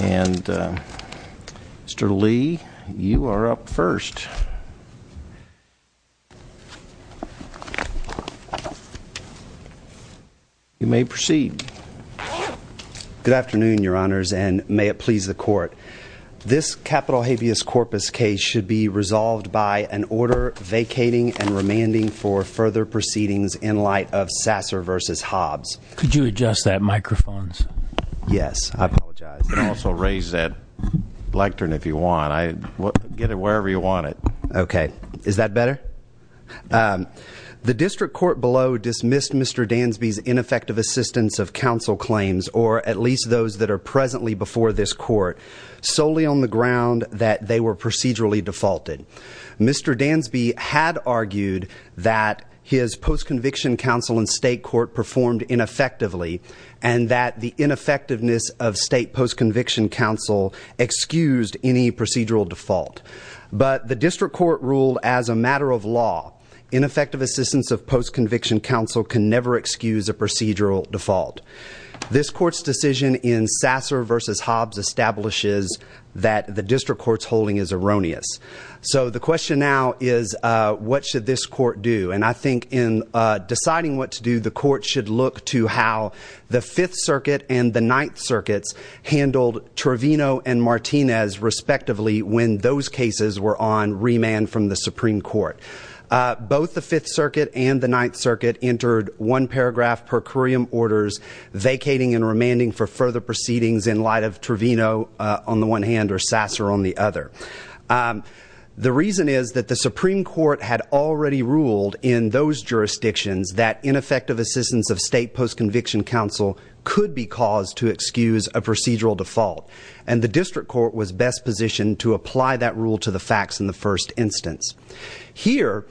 and mr. Lee you are up first you may proceed good afternoon your honors and may it please the court this capital habeas corpus case should be resolved by an order vacating and remanding for further proceedings in light of Sasser versus Hobbs could you adjust that microphones yes I also raise that lectern if you want I get it wherever you want it okay is that better the district court below dismissed mr. Dansby's ineffective assistance of counsel claims or at least those that are presently before this court solely on the ground that they were procedurally defaulted mr. Dansby had argued that his post-conviction counsel in state court performed ineffectively and that the ineffectiveness of state post-conviction counsel excused any procedural default but the district court ruled as a matter of law ineffective assistance of post-conviction counsel can never excuse a procedural default this court's decision in Sasser versus Hobbs establishes that the district courts holding is erroneous so the question now is what should this court do and I think in deciding what to do the court should look to how the Fifth Circuit and the Ninth Circuits handled Trevino and Martinez respectively when those cases were on remand from the Supreme Court both the Fifth Circuit and the Ninth Circuit entered one paragraph per curiam orders vacating and remanding for further proceedings in light of Trevino on the one hand or Sasser on the other the reason is that the Supreme Court had already ruled in those jurisdictions that ineffective assistance of state post-conviction counsel could be caused to excuse a procedural default and the district court was best positioned to apply that rule to the facts in the first instance here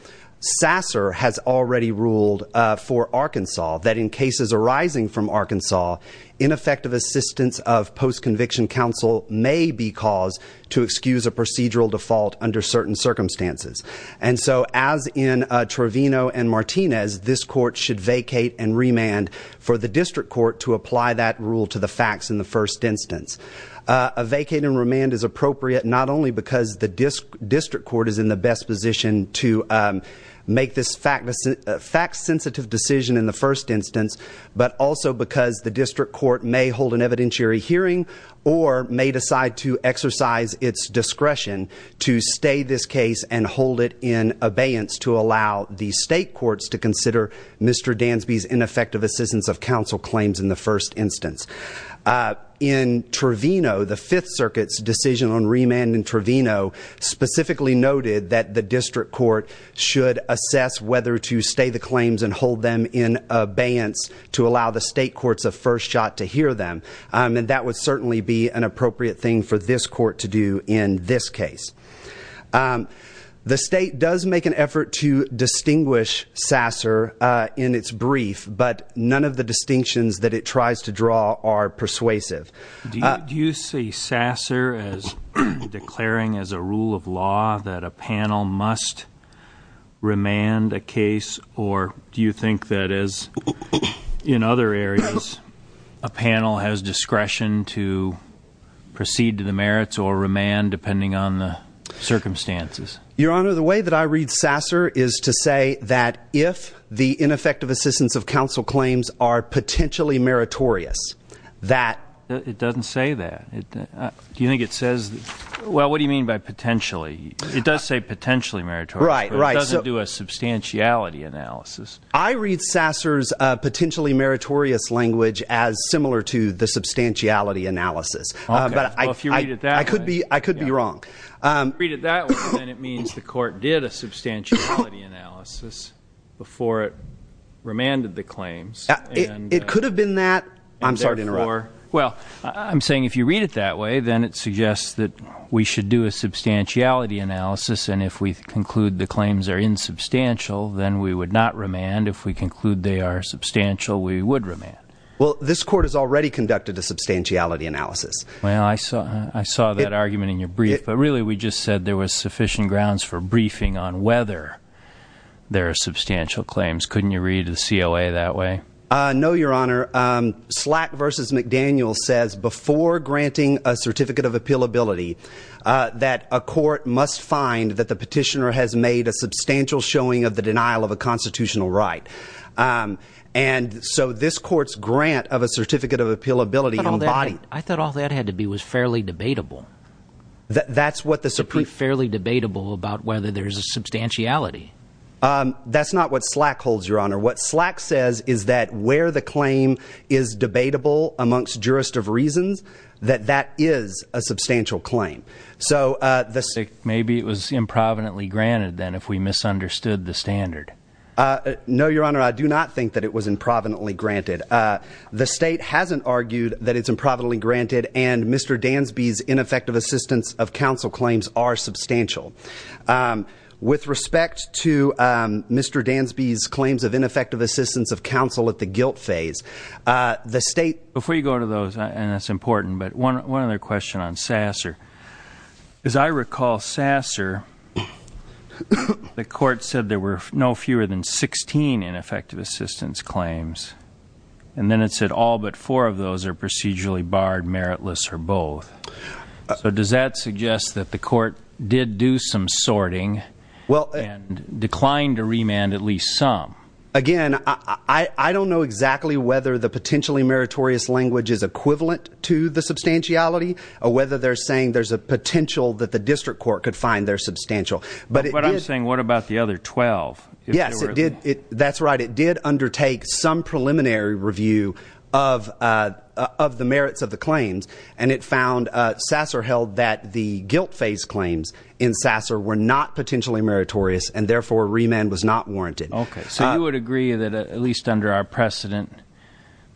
Sasser has already ruled for Arkansas that in cases arising from Arkansas ineffective assistance of post-conviction counsel may be caused to excuse a procedural default under certain circumstances and so as in Trevino and Martinez this court should vacate and remand for the district court to apply that rule to the facts in the first instance a vacating remand is appropriate not only because the district court is in the best position to make this fact sensitive decision in the first instance but also because the district court may hold an evidentiary hearing or may decide to exercise its discretion to stay this case and hold it in abeyance to allow the state courts to consider Mr. Dansby's ineffective assistance of counsel claims in the first instance in Trevino the Fifth Circuit's decision on remand in Trevino specifically noted that the district court should assess whether to stay the claims and hold them in abeyance to allow the state courts a first shot to hear them and that would certainly be an appropriate thing for this court to do in this case the state does make an effort to distinguish Sasser in its brief but none of the distinctions that it tries to draw are persuasive do you see Sasser as declaring as a rule of law that a panel must remand a case or do you think that is in other areas a panel has discretion to proceed to the merits or remand depending on the circumstances your honor the way that I read Sasser is to say that if the ineffective assistance of counsel claims are potentially meritorious that it doesn't say that do you think it says well what do you mean by potentially it does say potentially marriage right right so do a substantiality analysis I read Sasser's potentially meritorious language as similar to the substantiality analysis I could be I could be wrong it means the court did a substantial analysis before it remanded the claims it could have been that I'm sorry to interrupt well I'm saying if you read it that way then it suggests that we should do a substantiality analysis and if we conclude the claims are insubstantial then we would not remand if we conclude they are substantial we would remand well this court has already conducted a substantiality analysis well I saw I saw that argument in your brief but really we just said there was sufficient grounds for briefing on whether there are substantial claims couldn't you read the COA that way no your honor slack versus McDaniel says before granting a certificate of appeal ability that a court must find that the petitioner has made a substantial showing of the denial of a constitutional right and so this court's grant of a certificate of appeal ability I thought all that had to be was fairly debatable that's what the Supreme fairly debatable about whether there's a substantiality that's not what slack holds your honor what slack says is that where the claim is debatable amongst jurist of reasons that that is a substantial claim so the sick maybe it was improvidently granted then if we misunderstood the standard no your honor I do not think that it was improvidently granted the state hasn't argued that it's improbably granted and mr. Dansby's ineffective assistance of counsel claims are substantial with respect to mr. Dansby's claims of ineffective assistance of counsel at the guilt phase the state before you go to those and that's important but one other question on sasser as I recall sasser the court said there were no fewer than 16 ineffective assistance claims and then it said all but four of those are procedurally barred meritless or both so does that suggest that the court did do some sorting well and declined to remand at least some again I I don't know exactly whether the potentially meritorious language is equivalent to the substantiality or whether they're saying there's a potential that the district court could find their substantial but what I'm saying what about the other twelve yes it did it that's right it did undertake some preliminary review of of the merits of the claims and it found sasser held that the guilt phase claims in sasser were not potentially meritorious and therefore remand was not warranted okay so you would agree that at least under our precedent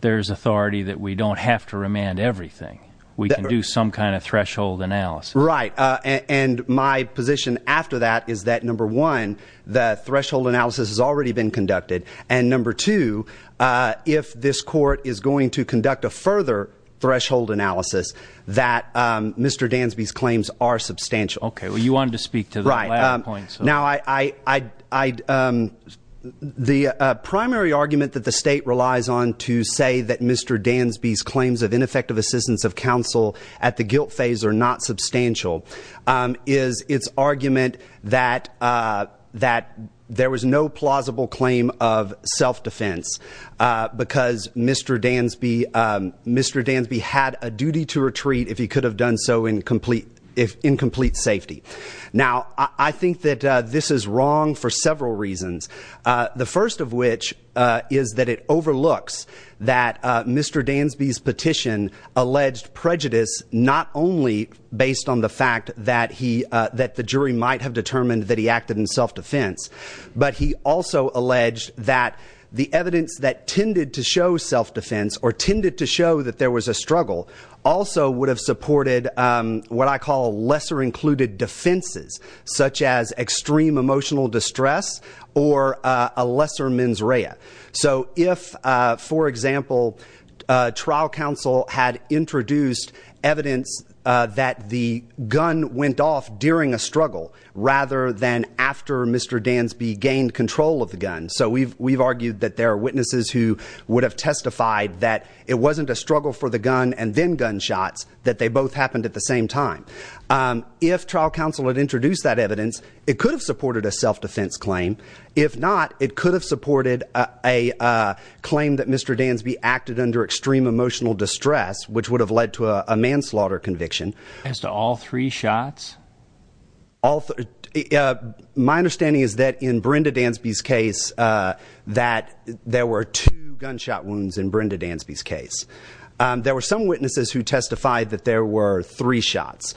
there's authority that we don't have to remand everything we can do some kind of threshold analysis right and my position after that is that number one the threshold analysis has already been conducted and number two if this court is going to conduct a further threshold analysis that mr. Dansby's claims are substantial okay well you wanted to speak to the right now I I the primary argument that the state relies on to say that mr. Dansby's claims of ineffective assistance of counsel at the guilt phase are not substantial is its argument that that there was no mr. Dansby had a duty to retreat if he could have done so in complete if incomplete safety now I think that this is wrong for several reasons the first of which is that it overlooks that mr. Dansby's petition alleged prejudice not only based on the fact that he that the jury might have determined that he acted in self-defense but he also alleged that the evidence that tended to show self-defense or tended to show that there was a struggle also would have supported what I call lesser included defenses such as extreme emotional distress or a lesser mens rea so if for example trial counsel had introduced evidence that the gun went off during a struggle rather than after mr. Dansby gained control of the gun so we've we've argued that there are witnesses who would have testified that it wasn't a struggle for the gun and then gunshots that they both happened at the same time if trial counsel had introduced that evidence it could have supported a self-defense claim if not it could have supported a claim that mr. Dansby acted under extreme emotional distress which would have led to a manslaughter conviction as to all three shots all my understanding is that in Brenda Dansby's case that there were two gunshot wounds in Brenda Dansby's case there were some witnesses who testified that there were three shots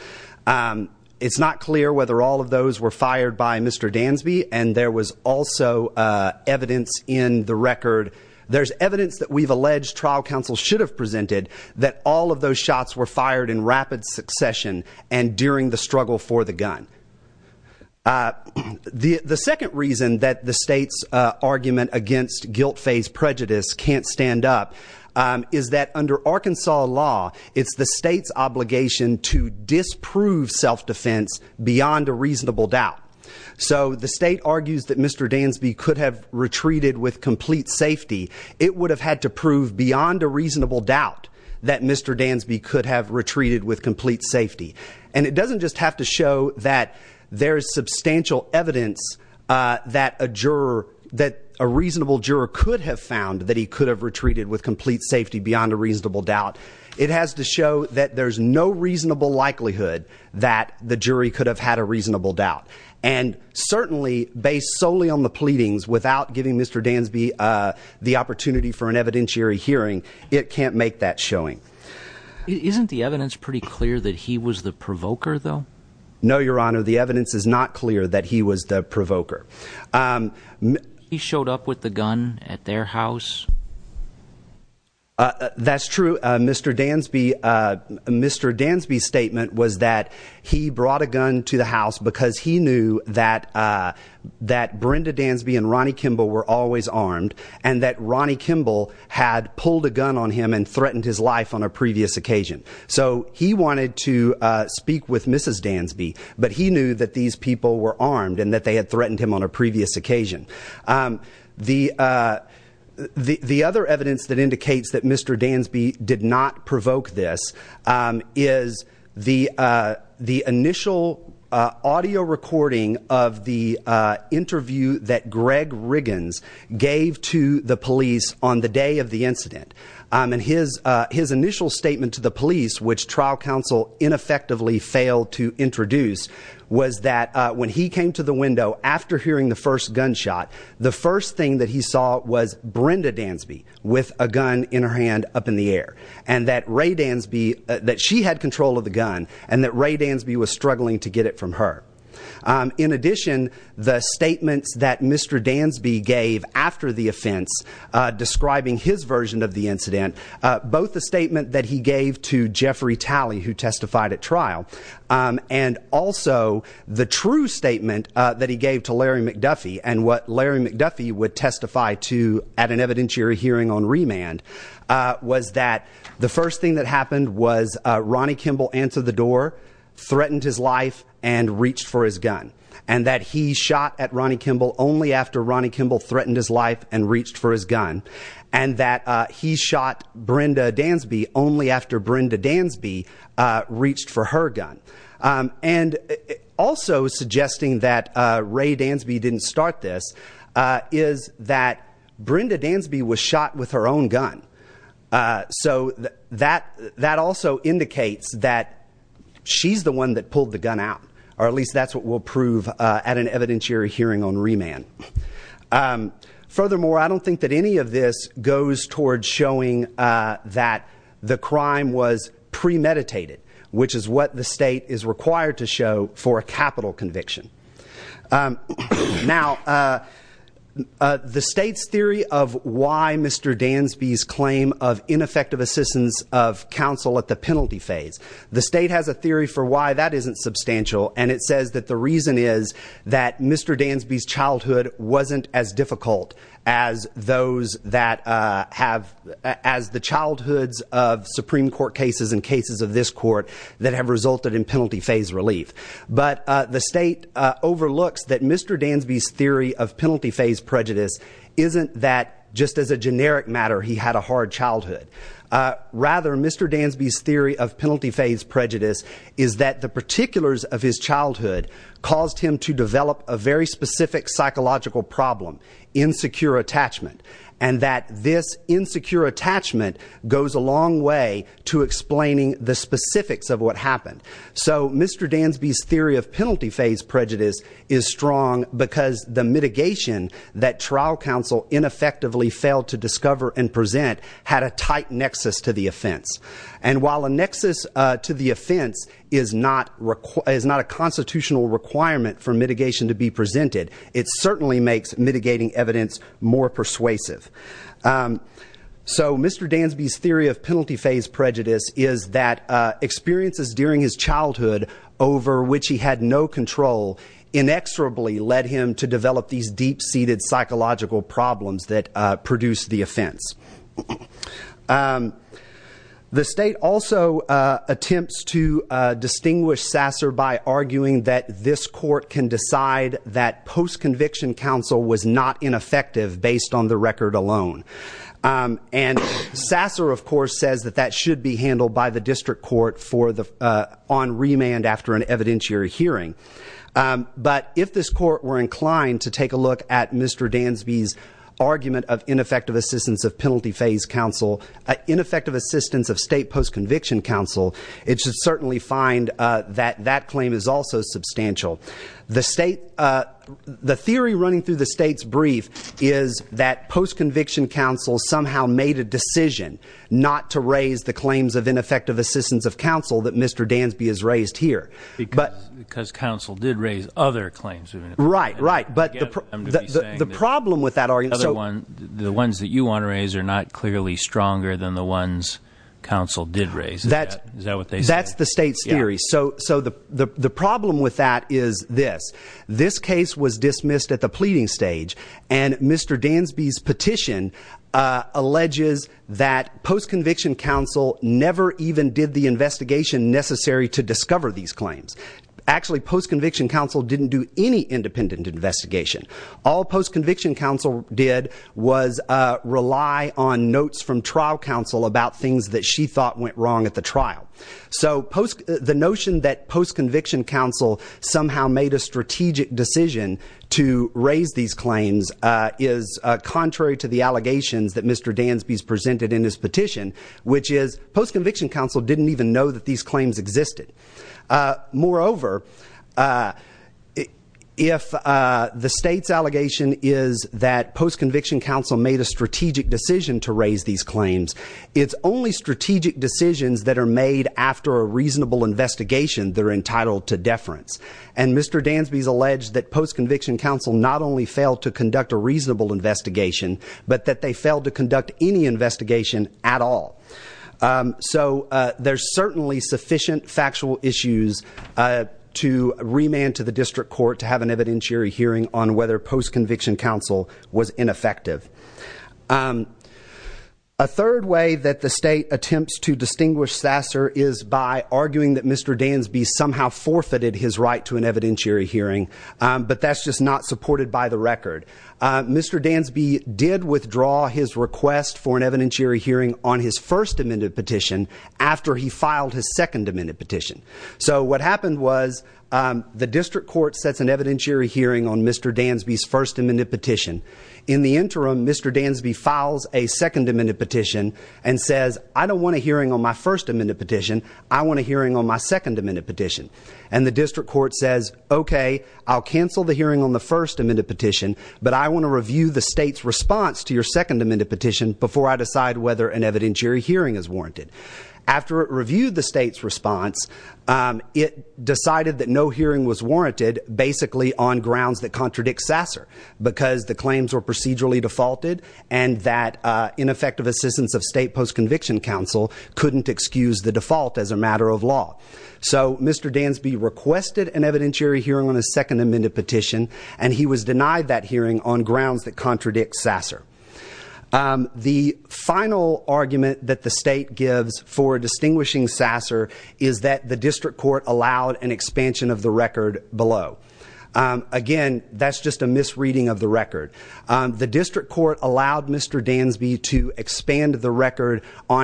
it's not clear whether all of those were fired by mr. Dansby and there was also evidence in the record there's evidence that we've alleged trial counsel should have presented that all of those shots were the the second reason that the state's argument against guilt-faced prejudice can't stand up is that under Arkansas law it's the state's obligation to disprove self-defense beyond a reasonable doubt so the state argues that mr. Dansby could have retreated with complete safety it would have had to prove beyond a reasonable doubt that mr. Dansby could have retreated with substantial evidence that a juror that a reasonable juror could have found that he could have retreated with complete safety beyond a reasonable doubt it has to show that there's no reasonable likelihood that the jury could have had a reasonable doubt and certainly based solely on the pleadings without giving mr. Dansby the opportunity for an evidentiary hearing it can't make that showing isn't the evidence pretty clear that he was the provoker though no your honor the evidence is not clear that he was the provoker he showed up with the gun at their house that's true mr. Dansby mr. Dansby statement was that he brought a gun to the house because he knew that that Brenda Dansby and Ronnie Kimball were always armed and that Ronnie Kimball had pulled a gun on him and threatened his life on a previous occasion so he wanted to speak with mrs. Dansby but he knew that these people were armed and that they had threatened him on a previous occasion the the other evidence that indicates that mr. Dansby did not provoke this is the the initial audio recording of the interview that Greg Riggins gave to the police on the day of the incident and his his initial statement to the police which trial counsel ineffectively failed to introduce was that when he came to the window after hearing the first gun shot the first thing that he saw was Brenda Dansby with a gun in her hand up in the air and that Ray Dansby that she had control of the gun and that Ray Dansby was struggling to get it from her in addition the statements that mr. Dansby gave after the offense describing his version of the incident both the and also the true statement that he gave to Larry McDuffie and what Larry McDuffie would testify to at an evidentiary hearing on remand was that the first thing that happened was Ronnie Kimball answered the door threatened his life and reached for his gun and that he shot at Ronnie Kimball only after Ronnie Kimball threatened his life and reached for his gun and that he shot Brenda Dansby reached for her gun and also suggesting that Ray Dansby didn't start this is that Brenda Dansby was shot with her own gun so that that also indicates that she's the one that pulled the gun out or at least that's what we'll prove at an evidentiary hearing on remand furthermore I don't think that any of this goes towards showing that the crime was premeditated which is what the state is required to show for a capital conviction now the state's theory of why mr. Dansby's claim of ineffective assistance of counsel at the penalty phase the state has a theory for why that isn't substantial and it says that the reason is that mr. Dansby's childhood wasn't as difficult as those that have as the childhoods of Supreme Court cases in cases of this court that have resulted in penalty phase relief but the state overlooks that mr. Dansby's theory of penalty phase prejudice isn't that just as a generic matter he had a hard childhood rather mr. Dansby's theory of penalty phase prejudice is that the particulars of his childhood caused him to develop a very specific psychological problem insecure attachment and that this insecure attachment goes a long way to explaining the specifics of what happened so mr. Dansby's theory of penalty phase prejudice is strong because the mitigation that trial counsel ineffectively failed to discover and present had a tight nexus to the offense and while a nexus to the offense is not required is not a constitutional requirement for mitigation to be presented it certainly makes mitigating evidence more persuasive so mr. Dansby's theory of penalty phase prejudice is that experiences during his childhood over which he had no control inexorably led him to develop these deep-seated psychological problems that produced the offense the state also attempts to distinguish sasser by arguing that this court can decide that post-conviction counsel was not ineffective based on the record alone and sasser of course says that that should be handled by the district court for the on remand after an evidentiary hearing but if this court were inclined to take a look at mr. Dansby's argument of ineffective assistance of penalty phase counsel ineffective assistance of state post-conviction counsel it should certainly find that that claim is also substantial the state the theory running through the state's brief is that post-conviction counsel somehow made a decision not to raise the claims of ineffective assistance of counsel that mr. Dansby is raised here but because counsel did raise other claims right right but the problem with that are you the ones that you want to raise are not clearly stronger than the ones counsel did raise that is that what they that's the state's theory so so the the problem with that is this this case was dismissed at the pleading stage and mr. Dansby's petition alleges that post-conviction counsel never even did the investigation necessary to discover these claims actually post-conviction counsel didn't do any independent investigation all post-conviction counsel did was rely on notes from trial counsel about things that she thought went wrong at the trial so post the notion that post-conviction counsel somehow made a strategic decision to raise these claims is contrary to the allegations that mr. Dansby's presented in his petition which is post-conviction counsel didn't even know that these claims existed moreover if the state's allegation is that post-conviction counsel made a strategic decision to raise these claims it's only strategic decisions that are made after a reasonable investigation they're entitled to deference and mr. Dansby's alleged that post-conviction counsel not only failed to conduct a reasonable investigation but that they failed to conduct any investigation at all so there's certainly sufficient factual issues to remand to the district court to have an evidentiary hearing on whether post-conviction counsel was ineffective a third way that the state attempts to distinguish sasser is by arguing that mr. Dansby's somehow forfeited his right to an evidentiary hearing but that's just not supported by the record mr. Dansby did withdraw his request for an evidentiary hearing on his first amended petition after he filed his second amended petition so what happened was the district court sets an evidentiary hearing on mr. Dansby's first amended petition in the interim mr. Dansby files a second amended petition and says I don't want a hearing on my first amended petition I want a hearing on my second amended petition and the district court says okay I'll cancel the hearing on the first amended petition but I want to review the state's response to your second amended petition before I decide whether an evidentiary hearing is warranted after it reviewed the state's response it decided that no hearing was warranted basically on grounds that contradict sasser because the claims were procedurally defaulted and that ineffective assistance of state post-conviction counsel couldn't excuse the default as a matter of law so mr. Dansby requested an evidentiary hearing on his second amended petition and he was denied that hearing on grounds that contradict sasser the final argument that the state gives for distinguishing sasser is that the district court allowed an expansion of the record below again that's just a misreading of the on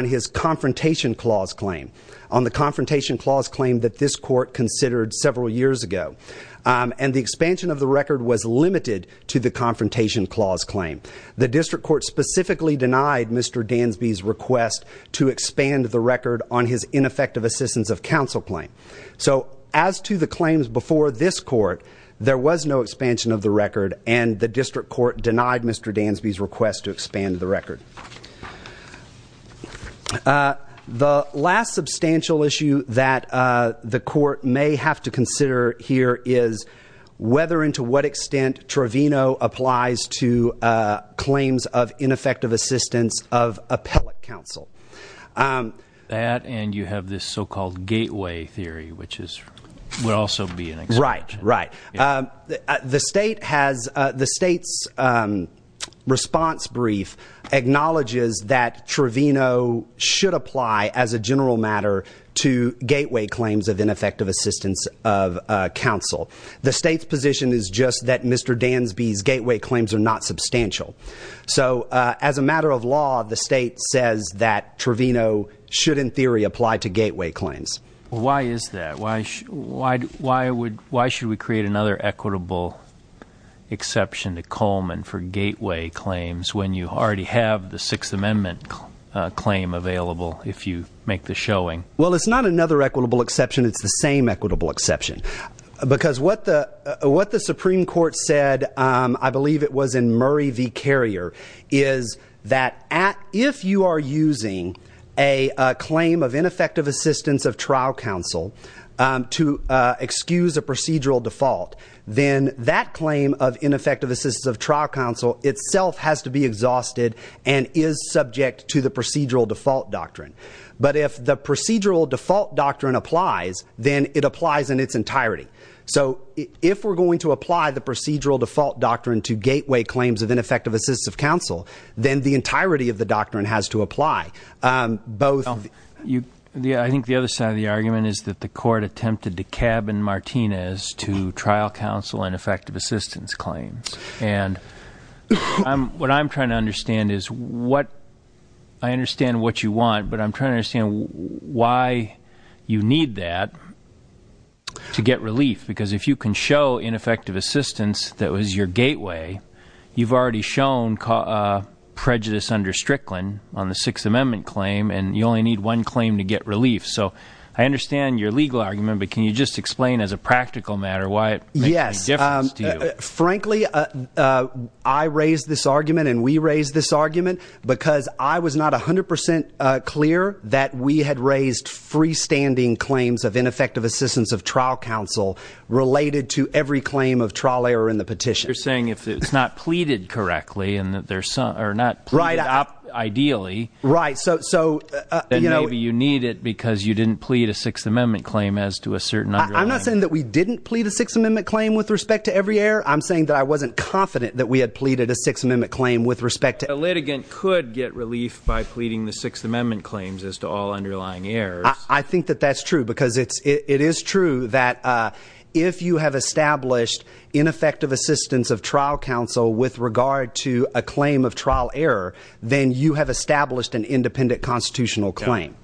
his confrontation clause claim on the confrontation clause claim that this court considered several years ago and the expansion of the record was limited to the confrontation clause claim the district court specifically denied mr. Dansby's request to expand the record on his ineffective assistance of counsel claim so as to the claims before this court there was no expansion of the record and the district court denied mr. Dansby's request to the last substantial issue that the court may have to consider here is whether into what extent Trevino applies to claims of ineffective assistance of appellate counsel that and you have this so-called gateway theory which is will also be an exact right the state has the state's response brief acknowledges that Trevino should apply as a general matter to gateway claims of ineffective assistance of counsel the state's position is just that mr. Dansby's gateway claims are not substantial so as a matter of law the state says that Trevino should in theory apply to gateway claims why is that why why why would why should we create another equitable exception to Coleman for amendment claim available if you make the showing well it's not another equitable exception it's the same equitable exception because what the what the Supreme Court said I believe it was in Murray v. Carrier is that at if you are using a claim of ineffective assistance of trial counsel to excuse a procedural default then that claim of ineffective assistance of trial counsel itself has to be exhausted and is subject to the procedural default doctrine but if the procedural default doctrine applies then it applies in its entirety so if we're going to apply the procedural default doctrine to gateway claims of ineffective assistive counsel then the entirety of the doctrine has to apply both you yeah I think the other side of the argument is that the court attempted to cabin Martinez to trial counsel and effective assistance claims and what I'm trying to understand is what I understand what you want but I'm trying to understand why you need that to get relief because if you can show ineffective assistance that was your gateway you've already shown prejudice under Strickland on the Sixth Amendment claim and you only need one claim to get relief so I understand your legal argument but can you just explain as a I raised this argument and we raised this argument because I was not a hundred percent clear that we had raised freestanding claims of ineffective assistance of trial counsel related to every claim of trial error in the petition you're saying if it's not pleaded correctly and that there's some or not right up ideally right so so you know you need it because you didn't plead a Sixth Amendment claim as to a certain I'm not saying that we didn't plead a Sixth Amendment claim with respect to every error I'm saying that I wasn't confident that we had pleaded a Sixth Amendment claim with respect to a litigant could get relief by pleading the Sixth Amendment claims as to all underlying air I think that that's true because it's it is true that if you have established ineffective assistance of trial counsel with regard to a claim of trial error then you have established an independent constitutional claim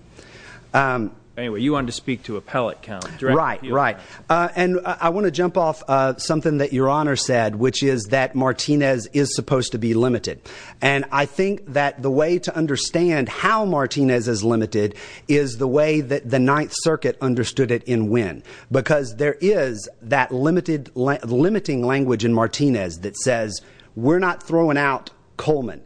anyway you want to speak to a pellet count right right and I want to jump off something that your honor said which is that Martinez is supposed to be limited and I think that the way to understand how Martinez is limited is the way that the Ninth Circuit understood it in win because there is that limited limiting language in Martinez that says we're not throwing out Coleman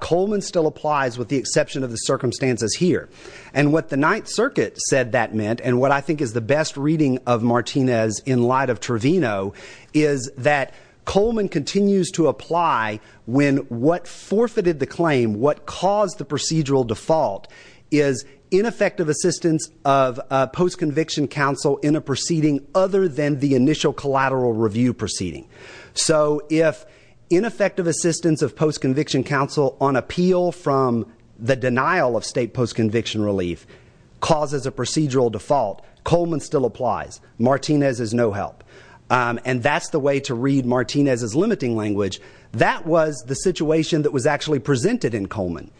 Coleman still applies with the exception of the circumstances here and what the Ninth Circuit said that meant and what I think is the best reading of Martinez in light of Trevino is that Coleman continues to apply when what forfeited the claim what caused the procedural default is ineffective assistance of post conviction counsel in a proceeding other than the initial collateral review proceeding so if ineffective assistance of post conviction counsel on appeal from the denial of state post conviction relief causes a procedural default Coleman still applies Martinez is no help and that's the way to read Martinez is limiting language that was the situation that was actually presented in Coleman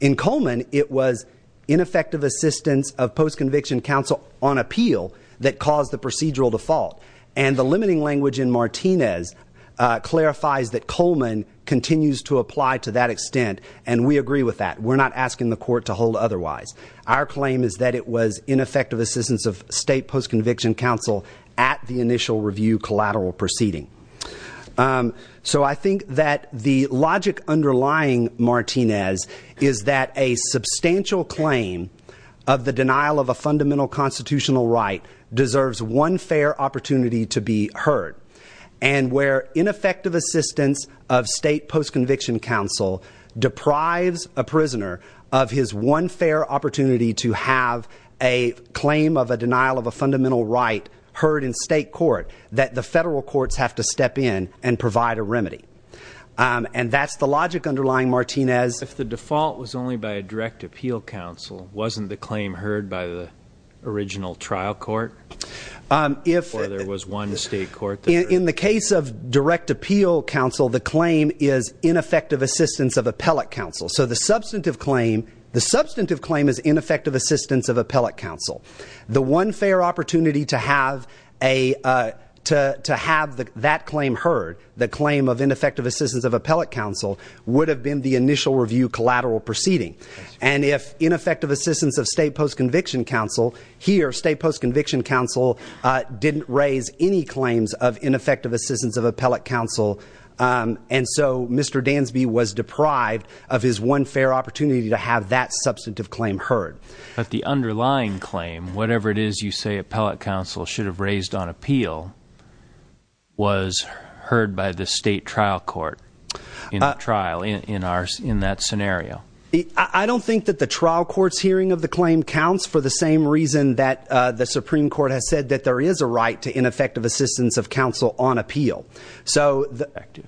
in Coleman it was ineffective assistance of post conviction counsel on appeal that caused the procedural default and the limiting language in Martinez clarifies that Coleman continues to apply to that extent and we agree with that we're not asking the court to hold otherwise our claim is that it was ineffective assistance of state post conviction counsel at the initial review collateral proceeding so I think that the logic underlying Martinez is that a substantial claim of the denial of a fundamental constitutional right deserves one fair opportunity to be heard and where ineffective assistance of state post conviction counsel deprives a prisoner of his one fair opportunity to have a claim of a denial of a fundamental right heard in state court that the federal courts have to step in and provide a remedy and that's the logic underlying Martinez if the default was only by a direct appeal counsel wasn't the claim heard by the original trial court if there was one state court in the case of direct appeal counsel the claim is of appeal counsel so the substantive claim is ineffective assistance of appellate counsel the one fair opportunity to have a to have that claim heard the claim of ineffective assistance of appellate counsel would have been the initial review collateral proceeding and if ineffective assistance of state post conviction counsel here state post conviction counsel didn't raise any claims of ineffective assistance of appellate council and so mr. Dansby was deprived of his one fair opportunity to have that substantive claim heard but the underlying claim whatever it is you say appellate counsel should have raised on appeal was heard by the state trial court in that trial in ours in that scenario I don't think that the trial courts hearing of the claim counts for the same reason that the Supreme Court has said that there is a right to ineffective assistance of counsel on appeal so the effective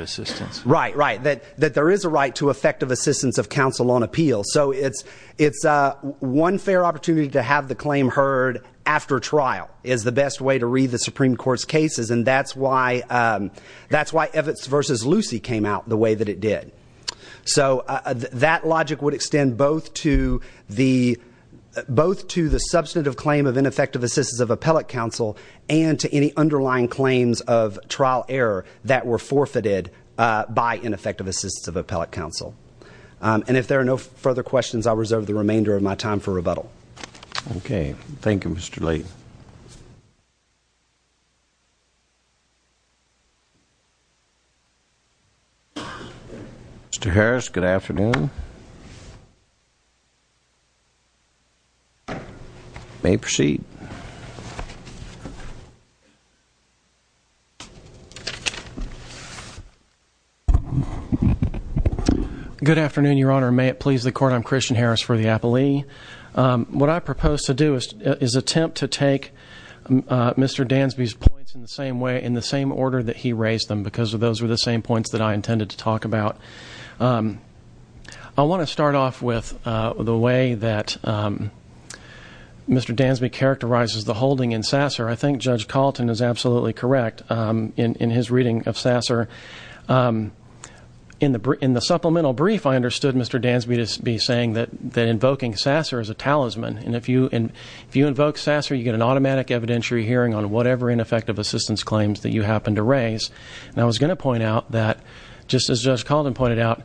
assistance right right that that there is a right to effective assistance of counsel on appeal so it's it's a one fair opportunity to have the claim heard after trial is the best way to read the Supreme Court's cases and that's why that's why if it's versus Lucy came out the way that it did so that logic would extend both to the both to the substantive claim of ineffective assistance of appellate counsel and to any underlying claims of trial error that were forfeited by ineffective assistance of appellate counsel and if there are no further questions I'll reserve the remainder of my time for rebuttal okay Thank You mr. Lee mr. Harris good afternoon may proceed good afternoon your honor may it please the court I'm Christian Harris for the mr. Dansby's points in the same way in the same order that he raised them because of those were the same points that I intended to talk about I want to start off with the way that mr. Dansby characterizes the holding in sasser I think judge Carlton is absolutely correct in his reading of sasser in the Britain the supplemental brief I understood mr. Dansby to be saying that that invoking sasser is a talisman and if you and if you invoke sasser you get an automatic evidentiary hearing on whatever ineffective assistance claims that you happen to raise and I was going to point out that just as just called and pointed out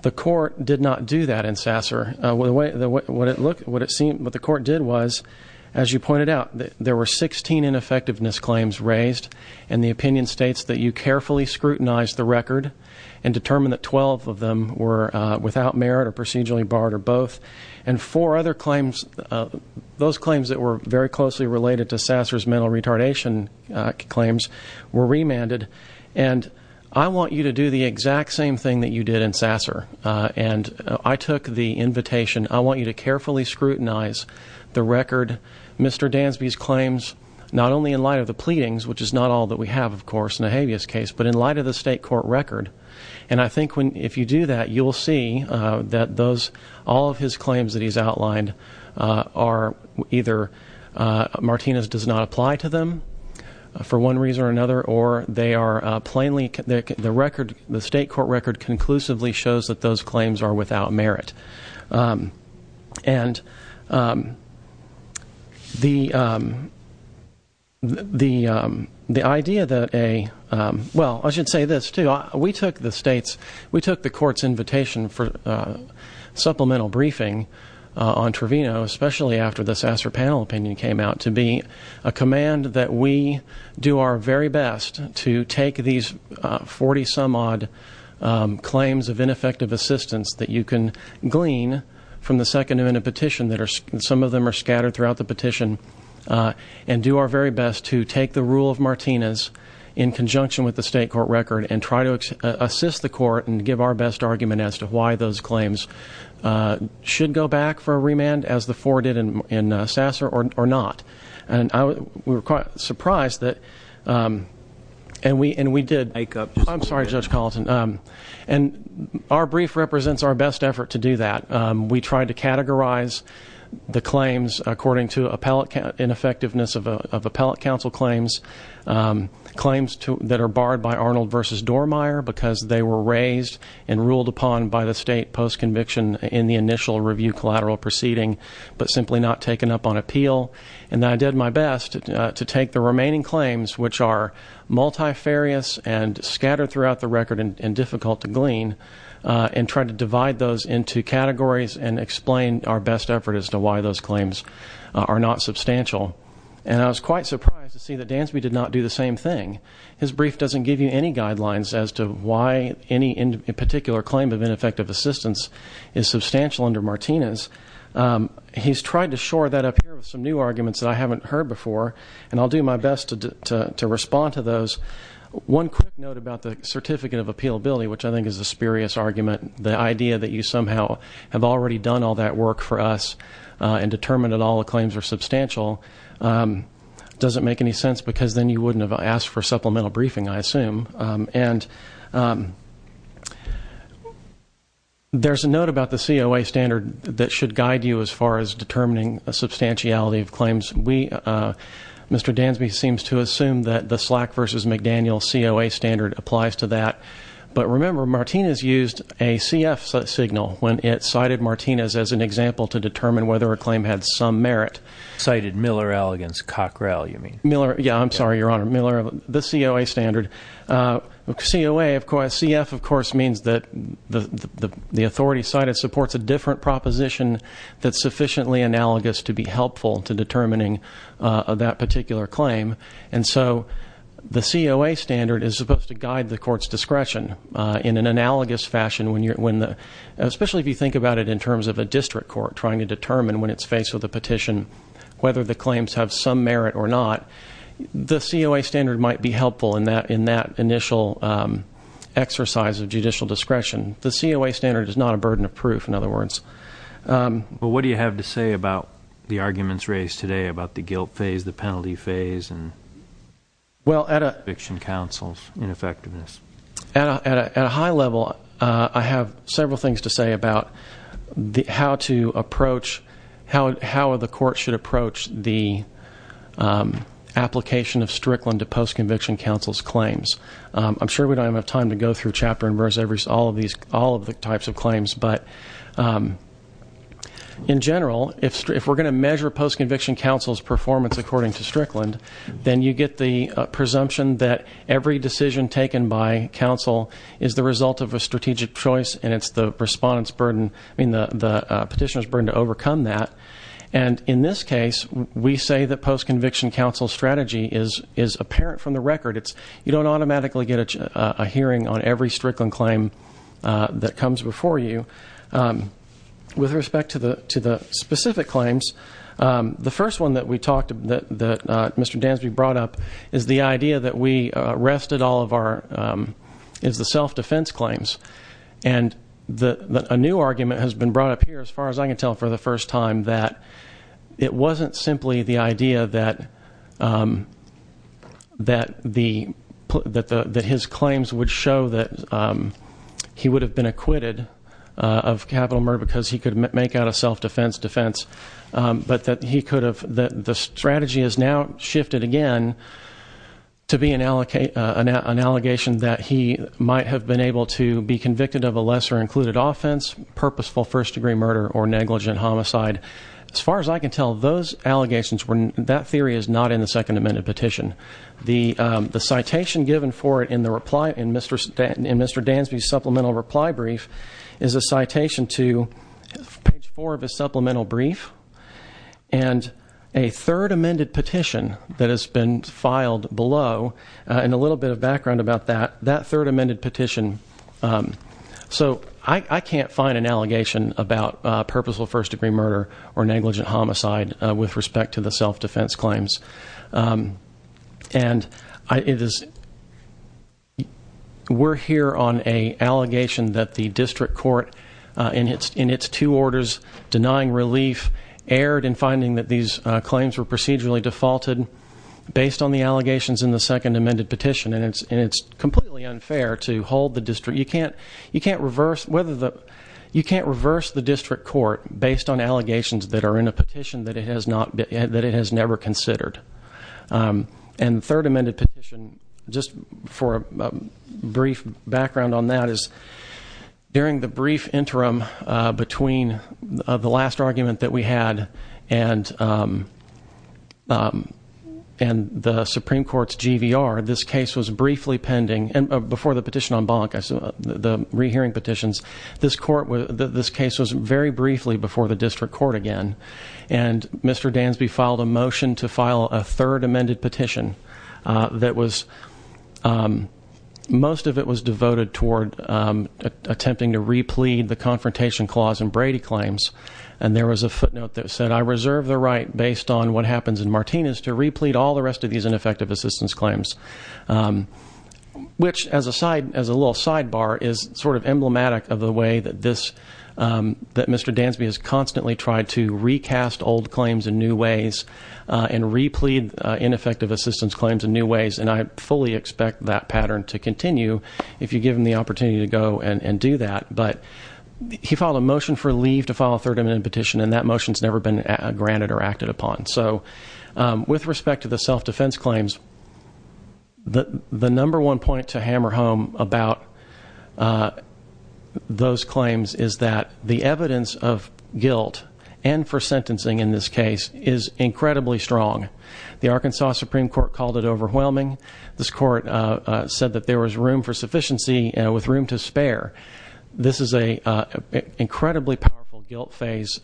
the court did not do that in sasser with the way what it looked what it seemed what the court did was as you pointed out that there were 16 ineffectiveness claims raised and the opinion states that you carefully scrutinized the record and determined that 12 of them were without merit or procedurally barred or both and four other claims those claims that were very closely related to sasser's mental retardation claims were remanded and I want you to do the exact same thing that you did in sasser and I took the invitation I want you to carefully scrutinize the record mr. Dansby's claims not only in light of the pleadings which is not all that we have of course in a habeas case but in light of the state court record and I think when if you do that you'll see that those all of his claims that he's are either Martinez does not apply to them for one reason or another or they are plainly the record the state court record conclusively shows that those claims are without merit and the the the idea that a well I should say this too we took the states we took the court's invitation for supplemental briefing on Trevino especially after the sasser panel opinion came out to be a command that we do our very best to take these 40 some-odd claims of ineffective assistance that you can glean from the second in a petition that are some of them are scattered throughout the petition and do our very best to take the rule of Martinez in conjunction with the state court record and try to assist the court and give our best argument as to why those claims should go back for a remand as the four did in sasser or not and we were quite surprised that and we and we did make up I'm sorry judge Carlton and our brief represents our best effort to do that we tried to categorize the claims according to appellate in effectiveness of appellate counsel claims claims to that are by Arnold versus Dormier because they were raised and ruled upon by the state post conviction in the initial review collateral proceeding but simply not taken up on appeal and I did my best to take the remaining claims which are multifarious and scattered throughout the record and difficult to glean and try to divide those into categories and explain our best effort as to why those claims are not substantial and I was quite surprised to see the dance we did not do the same thing as brief doesn't give you any guidelines as to why any in particular claim of ineffective assistance is substantial under Martinez he's tried to shore that up some new arguments I haven't heard before and I'll do my best to do to respond to those one quick note about the certificate of appeal Billy which I think is a spurious argument the idea that you somehow have already done all that work for us and determined all claims are substantial doesn't make any sense because then you wouldn't have asked for supplemental briefing I assume and there's a note about the COA standard that should guide you as far as determining a substantiality of claims we mr. Dansby seems to assume that the slack versus McDaniel COA standard applies to that but remember Martinez used a CF signal when it cited Martinez as an example to determine whether a claim had some merit cited Miller elegance Cockrell you mean Miller yeah I'm sorry your honor Miller the COA standard look see away of course CF of course means that the the authority cited supports a different proposition that's sufficiently analogous to be helpful to determining that particular claim and so the COA standard is supposed to guide the courts discretion in an analogous fashion when you're when especially if you think about it in terms of a district court trying to determine when it's faced with a petition whether the claims have some merit or not the COA standard might be helpful in that in that initial exercise of judicial discretion the COA standard is not a burden of proof in other words but what do you have to say about the arguments raised today about the guilt phase the penalty phase and well at a fiction counsel's ineffectiveness at a high level I have several things to say about the how to approach how the court should approach the application of Strickland to post-conviction counsel's claims I'm sure we don't have time to go through chapter and verse every all of these all of the types of claims but in general if we're going to measure post-conviction counsel's performance according to Strickland then you get the result of a strategic choice and it's the respondents burden I mean the petitioners burden to overcome that and in this case we say that post-conviction counsel strategy is is apparent from the record it's you don't automatically get a hearing on every Strickland claim that comes before you with respect to the to the specific claims the first one that we talked that Mr. Dansby brought up is the idea that we arrested all of our is the self-defense claims and the a new argument has been brought up here as far as I can tell for the first time that it wasn't simply the idea that that the that the that his claims would show that he would have been acquitted of capital murder because he could make out a self-defense defense but that he could have that the strategy is now shifted again to be an allocate an allegation that he might have been able to be convicted of a lesser included offense purposeful first-degree murder or negligent homicide as far as I can tell those allegations when that theory is not in the second amended petition the the citation given for it in the reply in mr. Stanton and mr. Dansby supplemental reply brief is a citation to page four of a supplemental brief and a third amended petition that has been filed below and a little bit of background about that that third amended petition so I can't find an allegation about purposeful first-degree murder or negligent homicide with respect to the self-defense claims and it is we're here on a allegation that the district court in its in its two orders denying relief erred in finding that these claims were procedurally defaulted based on the allegations in the second amended petition and it's and it's completely unfair to hold the district you can't you can't reverse whether the you can't reverse the district court based on allegations that are in a petition that it has not been that it has never considered and third amended petition just for a brief background on that is during the brief interim between the last argument that we had and and the Supreme Court's GVR this case was briefly pending and before the petition on bonk I saw the rehearing petitions this court with this case was very briefly before the district court again and mr. Dansby filed a motion to file a third amended petition that was most of it was devoted toward attempting to replete the confrontation clause and Brady claims and there was a footnote that said I reserve the right based on what happens in Martinez to replete all the rest of these ineffective assistance claims which as a side as a little sidebar is sort of emblematic of the way that this that mr. Dansby has constantly tried to recast old claims in new ways and replete ineffective assistance claims in new ways and I fully expect that pattern to continue if you give him the opportunity to go and and do that but he filed a motion for leave to file a third amendment petition and that motions never been granted or acted upon so with respect to the the evidence of guilt and for sentencing in this case is incredibly strong the Arkansas Supreme Court called it overwhelming this court said that there was room for sufficiency and with room to spare this is a incredibly powerful guilt phase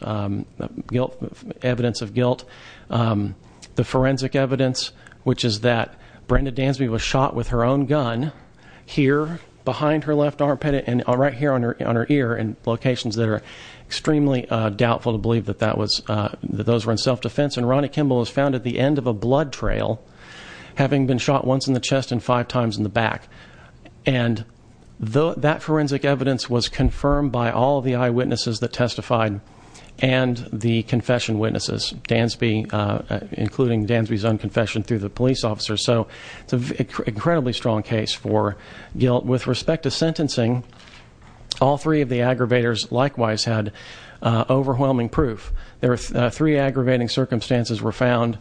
guilt evidence of guilt the forensic evidence which is that Brenda Dansby was shot with her own gun here behind her left armpit and all right here on her on her ear and locations that are extremely doubtful to believe that that was that those were in self-defense and Ronnie Kimball was found at the end of a blood trail having been shot once in the chest and five times in the back and though that forensic evidence was confirmed by all the eyewitnesses that testified and the confession witnesses Dansby including Dansby's own confession through the police officer so it's an incredibly strong case for guilt with respect to sentencing all three of the aggravators likewise had overwhelming proof there are three aggravating circumstances were found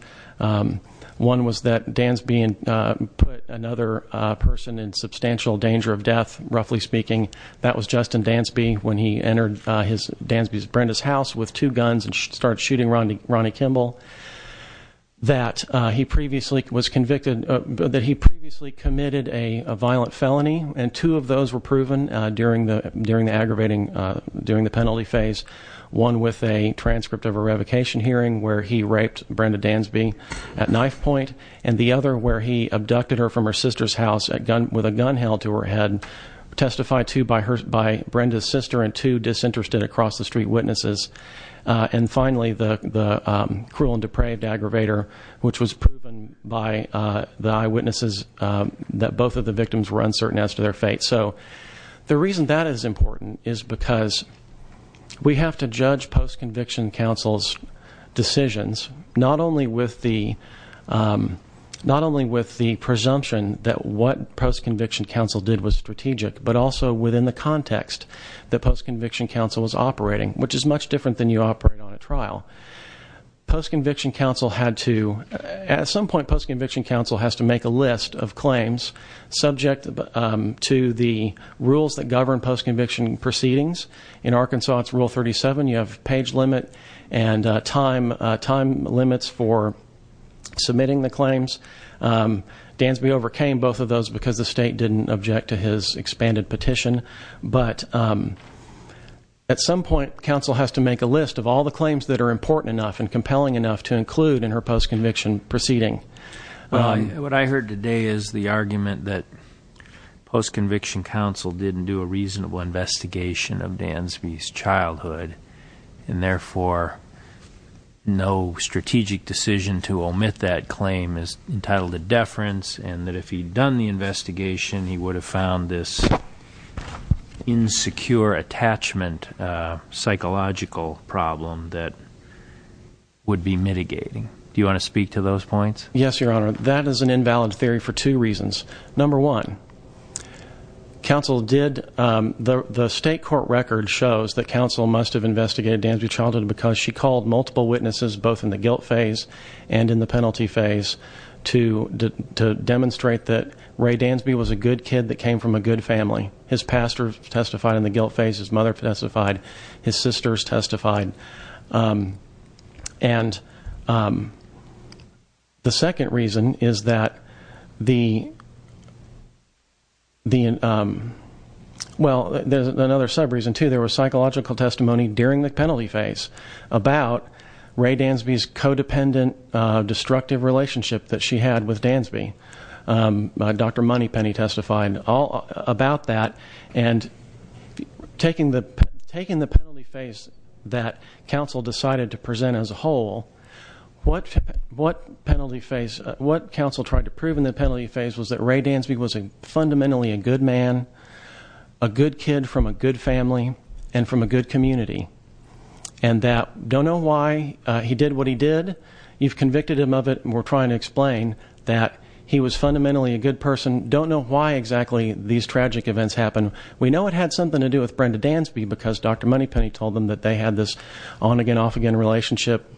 one was that Dansby and put another person in substantial danger of death roughly speaking that was Justin Dansby when he entered his Dansby's Brenda's house with two guns and started shooting Ronnie Ronnie Kimball that he previously was convicted but that he previously committed a violent felony and two of those were proven during the during the aggravating during the penalty phase one with a transcript of a revocation hearing where he raped Brenda Dansby at knife point and the other where he abducted her from her sister's house at gun with a gun held to her head testified to by hers by Brenda's sister and two disinterested across the street witnesses and finally the cruel depraved aggravator which was proven by the eyewitnesses that both of the victims were uncertain as to their fate so the reason that is important is because we have to judge post-conviction counsel's decisions not only with the not only with the presumption that what post-conviction counsel did was strategic but also within the context that post-conviction counsel was trial post-conviction counsel had to at some point post-conviction counsel has to make a list of claims subject to the rules that govern post-conviction proceedings in Arkansas it's rule 37 you have page limit and time time limits for submitting the claims Dansby overcame both of those because the state didn't object to his expanded petition but at some point counsel has to make a list of claims that are important enough and compelling enough to include in her post-conviction proceeding what I heard today is the argument that post-conviction counsel didn't do a reasonable investigation of Dansby's childhood and therefore no strategic decision to omit that claim is entitled to deference and that if he'd done the investigation he would have found this insecure attachment psychological problem that would be mitigating do you want to speak to those points yes your honor that is an invalid theory for two reasons number one counsel did the state court record shows that counsel must have investigated Dansby's childhood because she called multiple witnesses both in the guilt phase and in the penalty phase to demonstrate that Ray Dansby was a good kid that came from a good family his pastor testified in the guilt phase his mother testified his sisters testified and the second reason is that the the well there's another sub reason to there was psychological testimony during the penalty phase about Ray Dansby's codependent destructive relationship that she had with Dansby dr. money penny testified all about that and taking the taking the penalty phase that counsel decided to present as a whole what what penalty phase what counsel tried to prove in the penalty phase was that Ray Dansby was a fundamentally a good man a good kid from a good family and from a good community and that don't know why he did what he did you've convicted him of it and we're trying to explain that he was fundamentally a good person don't know why exactly these tragic events happen we know it had something to do with Brenda Dansby because dr. money penny told them that they had this on again off again relationship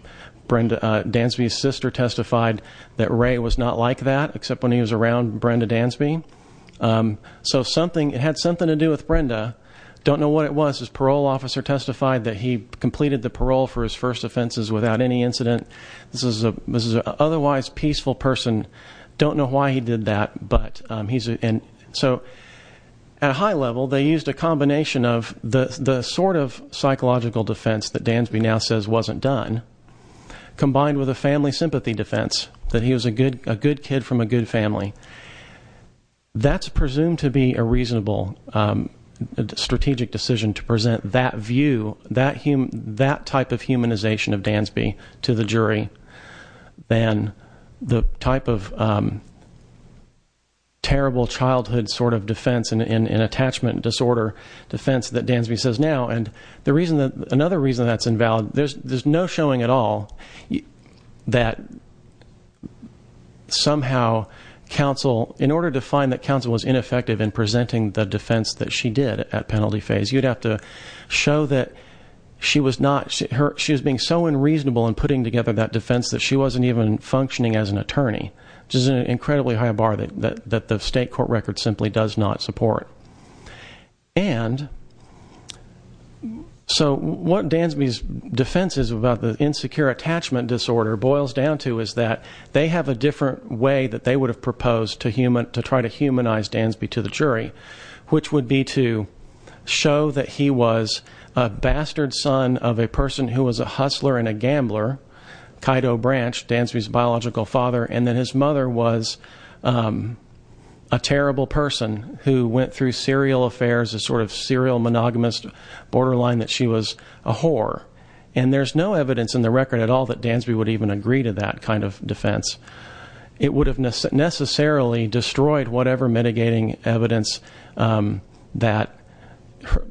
Brenda Dansby's sister testified that Ray was not like that except when he was around Brenda Dansby so something it had something to do with Brenda don't know what it was his parole officer testified that he completed the parole for his first offenses without any incident this is a otherwise peaceful person don't know why he did that but he's in so at a high level they used a combination of the sort of psychological defense that Dansby now says wasn't done combined with a family sympathy defense that he was a good a good kid from a good family that's presumed to be a reasonable strategic decision to present that view that type of humanization of Dansby to the jury then the type of terrible childhood sort of defense and in an attachment disorder defense that Dansby says now and the reason that another reason that's invalid there's there's no showing at all that somehow counsel in order to find that counsel was ineffective in presenting the defense that she did at penalty phase you'd have to show that she was not hurt she's being so unreasonable and putting together that defense that she wasn't even functioning as an attorney just incredibly high bar that that that the state court record simply does not support and so what Dansby's defenses about the insecure attachment disorder boils down to is that they have a different way that they would have proposed to human to try to humanize Dansby to the jury which would be to show that he was a bastard son of a person who was a hustler and a gambler Kaido branch Dan's whose biological father and then his mother was a terrible person who went through serial affairs a sort of serial monogamous borderline that she was a whore and there's no evidence in the record at all that Dansby would even agree to that kind of defense it would have necessarily destroyed whatever mitigating evidence that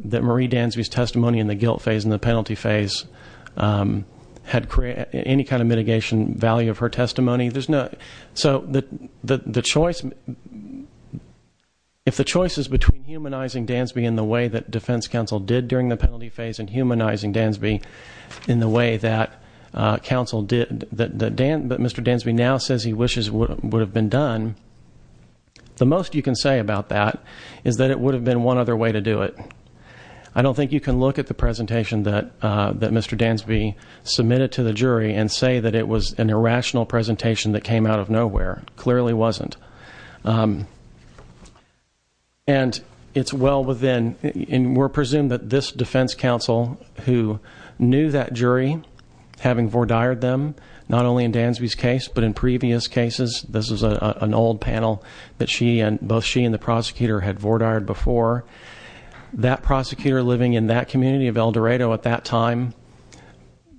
that Marie Dansby's testimony in the guilt phase in the penalty phase had created any kind of mitigation value of her testimony there's no so that the choice if the choice is between humanizing Dansby in the way that defense counsel did during the penalty phase and humanizing Dansby in the way that counsel did that the but mr. Dansby now says he wishes what would have been done the most you can say about that is that it would have been one other way to do it I don't think you can look at the presentation that that mr. Dansby submitted to the jury and say that it was an irrational presentation that came out of nowhere clearly wasn't and it's well within and we're presumed that this defense counsel who knew that jury having for dired them not only in Dansby's case but in previous cases this is an old panel that she and both she and the prosecutor had for tired before that prosecutor living in that community of El Dorado at that time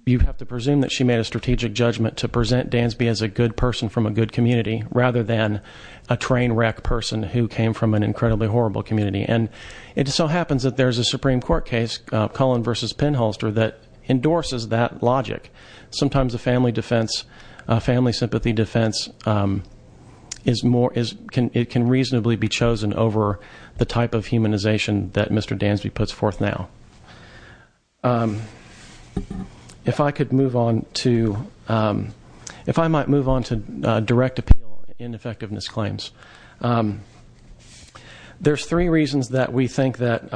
you have to presume that she made a strategic judgment to present Dansby as a good person from a good community rather than a train wreck person who came from an incredibly horrible community and it so happens that there's a Supreme Court case Cullen versus pinholster that endorses that logic sometimes a family defense family sympathy defense is more is can it can reasonably be chosen over the type of humanization that mr. Dansby puts forth now if I could move on to if I might move on to direct appeal in effectiveness claims there's three reasons that we think that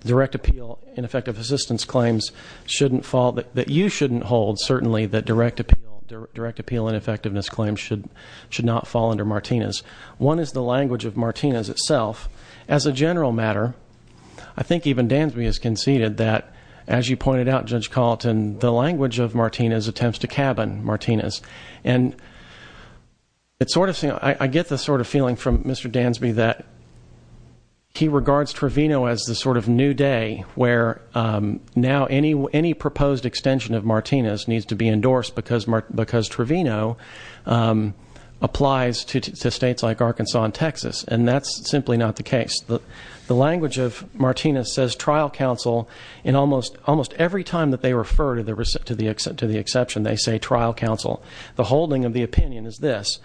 direct appeal in effective assistance claims shouldn't fall that you shouldn't hold certainly that direct appeal direct appeal in effectiveness claims should should not fall under Martinez one is the language of Martinez itself as a general matter I think even Dan's me is conceded that as you pointed out judge Colton the language of Martinez attempts to cabin Martinez and it's sort of thing I get the sort of feeling from mr. Dansby that he regards Trevino as the sort of new day where now any any proposed extension of Martinez needs to be endorsed because mark because Trevino applies to states like Arkansas and Texas and that's simply not the case the the language of Martinez says trial counsel in almost almost every time that they refer to the receipt to the exit to the exception they say trial counsel the holding of the opinion is this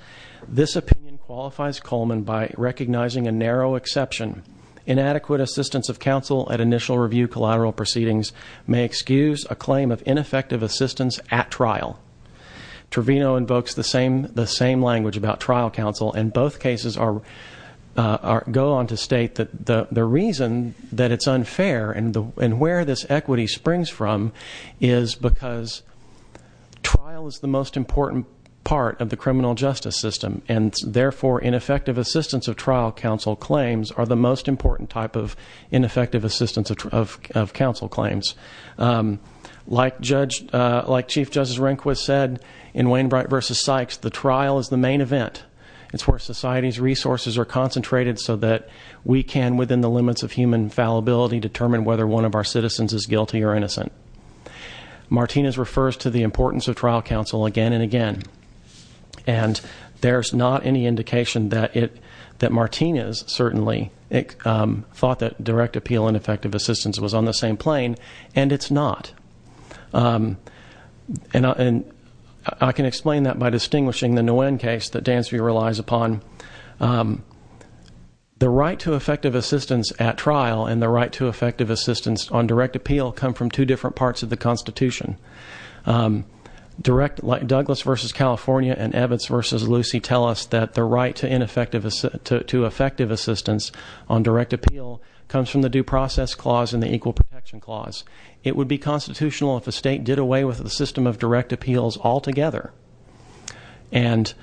this opinion qualifies Coleman by recognizing a narrow exception inadequate assistance of counsel at initial review collateral proceedings may excuse a claim of ineffective assistance at trial Trevino invokes the same the same language about trial counsel and both cases are are go on to state that the the reason that it's unfair and the and where this equity springs from is because trial is the most important part of the criminal justice system and therefore ineffective assistance of trial counsel claims are the most important type of ineffective assistance of of counsel claims like judge like Chief Justice Rehnquist said in Wainwright versus Sykes the trial is the main event it's where society's resources are concentrated so that we can within the limits of human fallibility determine whether one of our citizens is guilty or innocent Martinez refers to the importance of trial counsel again and again and there's not any indication that it that Martinez certainly thought that direct appeal and effective assistance was on the same plane and it's not and I can explain that by distinguishing the Nguyen case that Dansby relies upon the right to effective assistance at trial and the right to effective assistance on direct appeal come from two different parts of the Constitution direct like Douglas versus California and Evans versus Lucy tell us that the right to ineffective to effective assistance on direct appeal comes from the due process clause in the equal protection clause it would be constitutional if a state did away with the system of direct appeals altogether and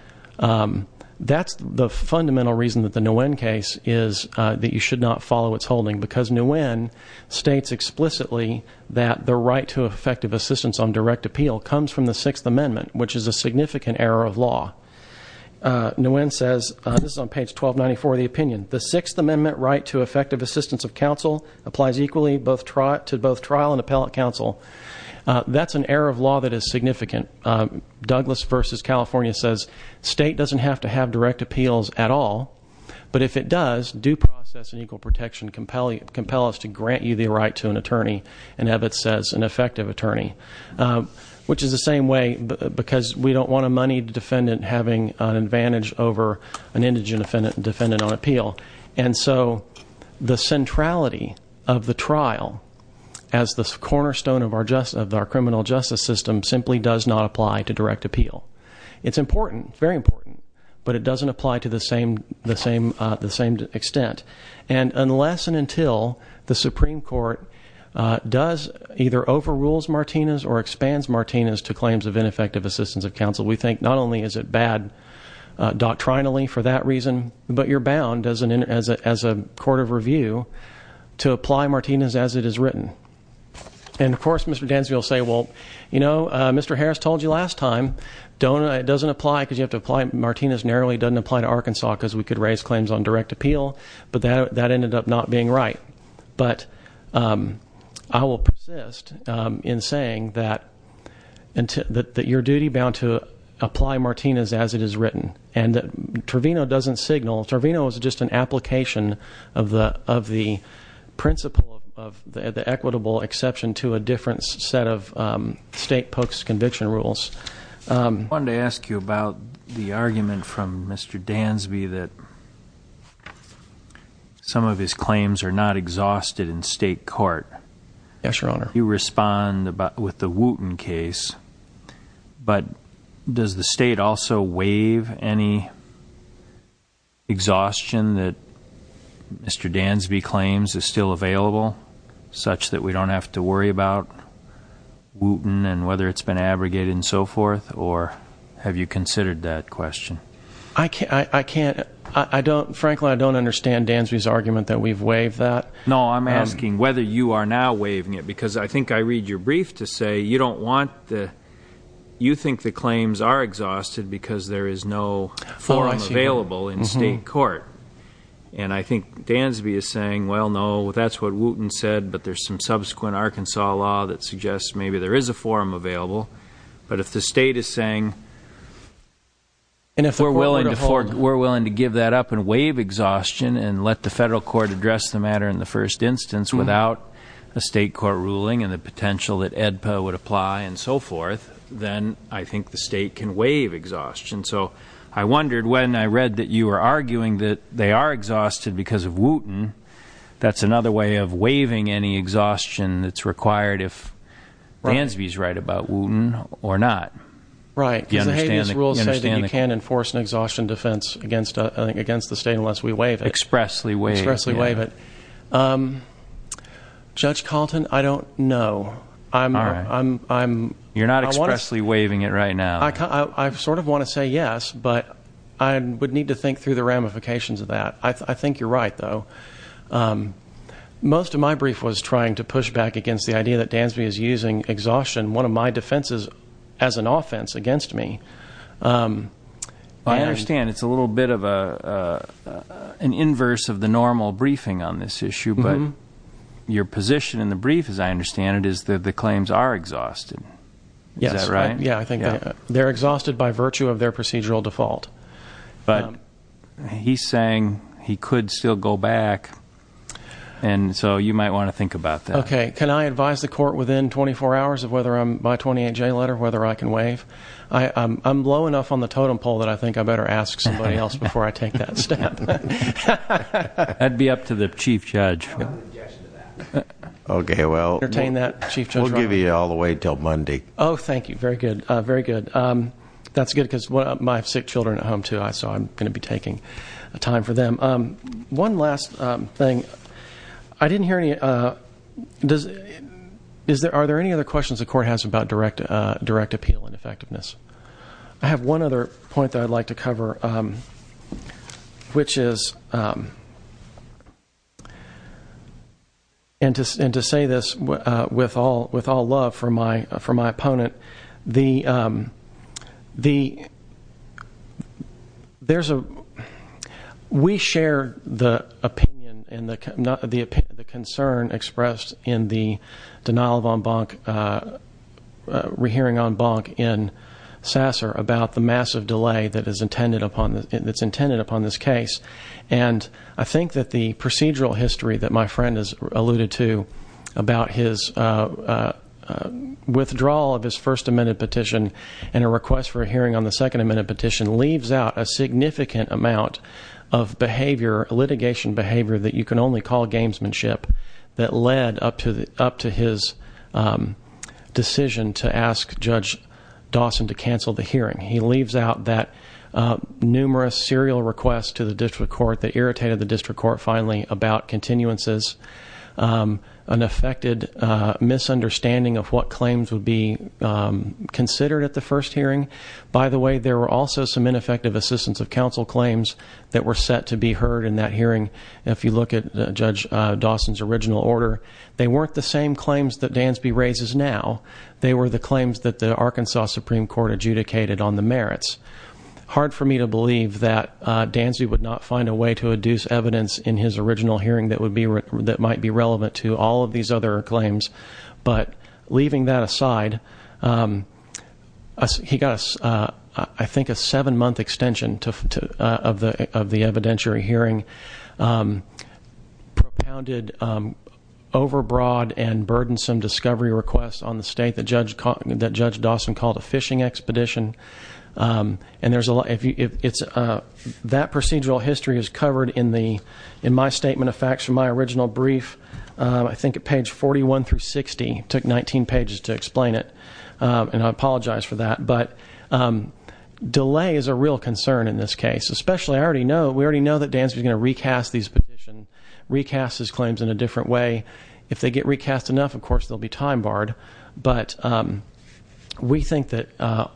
that's the fundamental reason that the Nguyen case is that you should not follow its holding because Nguyen states explicitly that the right to effective assistance on direct appeal comes from the Sixth Amendment which is a significant error of law Nguyen says this is on page 1294 the opinion the Sixth Amendment right to effective assistance of counsel applies equally both trial to both trial and appellate counsel that's an error of law that is significant Douglas versus California says state doesn't have to have direct appeals at all but if it does due process and equal protection compel you compel us to grant you the right to an attorney and have it says an effective attorney which is the same way because we don't want a moneyed defendant having an advantage over an indigent defendant defendant on appeal and so the centrality of the trial as the cornerstone of our justice of our criminal justice system simply does not apply to direct appeal it's important very important but it doesn't apply to the same the same the same extent and unless and until the Supreme Court does either overrules Martinez or expands Martinez to claims of ineffective assistance of counsel we think not only is it bad doctrinally for that reason but you're bound as an in as a as a court of review to apply Martinez as it is written and of course mr. Denzel say well you know mr. Harris told you last time don't it doesn't apply because you have to apply Martinez narrowly doesn't apply to Arkansas because we could raise claims on direct appeal but that that ended up not being right but I will persist in saying that and that your duty bound to apply Martinez as it is written and Trevino doesn't signal Trevino is just an application of the of the principle of the equitable exception to a different set of state pokes conviction rules one to ask you about the argument from mr. Dansby that some of his claims are not exhausted in state court yes your honor you respond about with the Wooten case but does the state also waive any exhaustion that mr. Dansby claims is still available such that we don't have to worry about Wooten and whether it's been abrogated and so forth or have you considered that question I can't I can't I don't frankly I don't understand Dansby's argument that we've waived that no I'm asking whether you are now waiving it because I think I read your brief to say you don't want the you think the claims are exhausted because there is no forum available in state court and I think Dansby is saying well no that's what Wooten said but there's some subsequent Arkansas law that suggests maybe there is a forum available but if the state is saying and if we're willing to fork we're willing to give that up and waive exhaustion and let the federal court address the matter in the first instance without a state court ruling and the potential that EDPA would apply and so forth then I think the state can waive exhaustion so I wondered when I read that you were arguing that they are exhausted because of Wooten that's another way of waiving any exhaustion that's required if Dansby's right about Wooten or not right you can't enforce an exhaustion defense against I think against the state unless we waive it expressly waive it judge Calton I don't know I'm I'm you're not expressly waiving it right now I've sort of want to say yes but I would need to think through the ramifications of that I most of my brief was trying to push back against the idea that Dansby is using exhaustion one of my defenses as an offense against me I understand it's a little bit of a an inverse of the normal briefing on this issue but your position in the brief as I understand it is that the claims are exhausted yes right yeah I think they're exhausted by virtue of their procedural default but saying he could still go back and so you might want to think about that okay can I advise the court within 24 hours of whether I'm by 28 J letter whether I can waive I I'm low enough on the totem pole that I think I better ask somebody else before I take that step I'd be up to the chief judge okay well we'll give you all the way till Monday oh thank you very good very good that's good because what my sick children at home too I saw I'm gonna be taking a time for them one last thing I didn't hear any does is there are there any other questions the court has about direct direct appeal and effectiveness I have one other point that I'd like to cover which is and to say this with all with all love for my opponent the the there's a we share the opinion and the concern expressed in the denial of en banc rehearing en banc in sasser about the massive delay that is intended upon that's intended upon this case and I think that the procedural history that my friend is alluded to about his withdrawal of his first amendment petition and a request for a hearing on the second amendment petition leaves out a significant amount of behavior litigation behavior that you can only call gamesmanship that led up to the up to his decision to ask judge Dawson to cancel the hearing he leaves out that numerous serial requests to the continuances an affected misunderstanding of what claims would be considered at the first hearing by the way there were also some ineffective assistance of counsel claims that were set to be heard in that hearing if you look at judge Dawson's original order they weren't the same claims that Dansby raises now they were the claims that the Arkansas Supreme Court adjudicated on the merits hard for me to believe that Dansy would not find a way to adduce evidence in his original hearing that would be written that might be relevant to all of these other claims but leaving that aside he got us I think a seven month extension to of the of the evidentiary hearing propounded over broad and burdensome discovery requests on the state that judge caught that judge Dawson called a fishing expedition and there's a lot if it's a that procedural history is covered in the in my statement of facts from my original brief I think at page 41 through 60 took 19 pages to explain it and I apologize for that but delay is a real concern in this case especially I already know we already know that Dan's gonna recast these petition recast his claims in a different way if they get recast enough of course they'll be time-barred but we that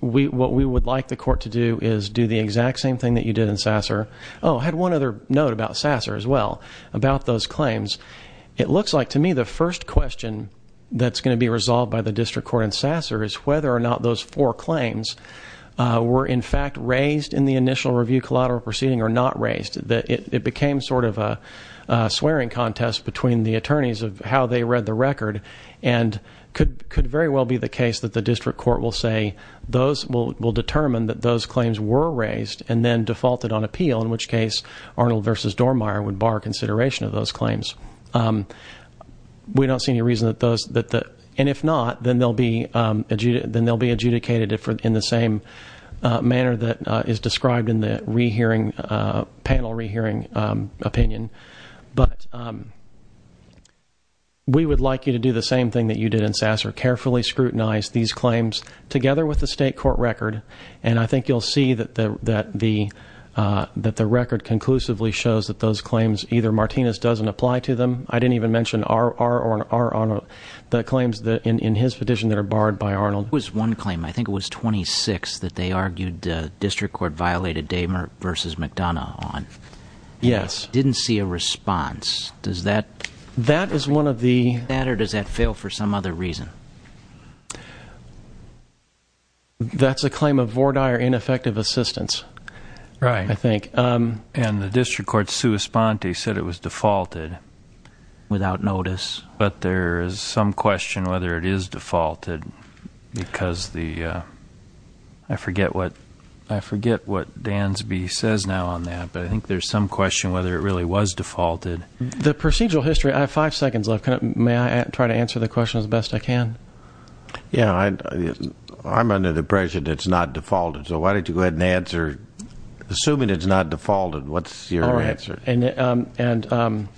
we what we would like the court to do is do the exact same thing that you did in sasser Oh had one other note about sasser as well about those claims it looks like to me the first question that's going to be resolved by the district court in sasser is whether or not those four claims were in fact raised in the initial review collateral proceeding or not raised that it became sort of a swearing contest between the attorneys of how they read the record and could could very well be the case that the district court will say those will determine that those claims were raised and then defaulted on appeal in which case Arnold versus Dormier would bar consideration of those claims we don't see any reason that those that the and if not then they'll be then they'll be adjudicated it for in the same manner that is described in the rehearing panel rehearing opinion but we would like you to do the same thing that you did in sasser carefully scrutinize these claims together with the state court record and I think you'll see that the that the that the record conclusively shows that those claims either Martinez doesn't apply to them I didn't even mention our our honor the claims that in his petition that are barred by Arnold was one claim I think it was 26 that they argued district court violated damer versus McDonough on yes didn't see a response does that that is one of the matter does that fail for some other reason that's a claim of Vorda or ineffective assistance right I think and the district court's suespanti said it was defaulted without notice but there is some question whether it is defaulted because the I forget what I forget what Dan's says now on that but I think there's some question whether it really was defaulted the procedural history I five seconds left may I try to answer the question as best I can yeah I'm under the pressure that's not defaulted so why don't you go ahead and answer assuming it's not defaulted what's your answer and and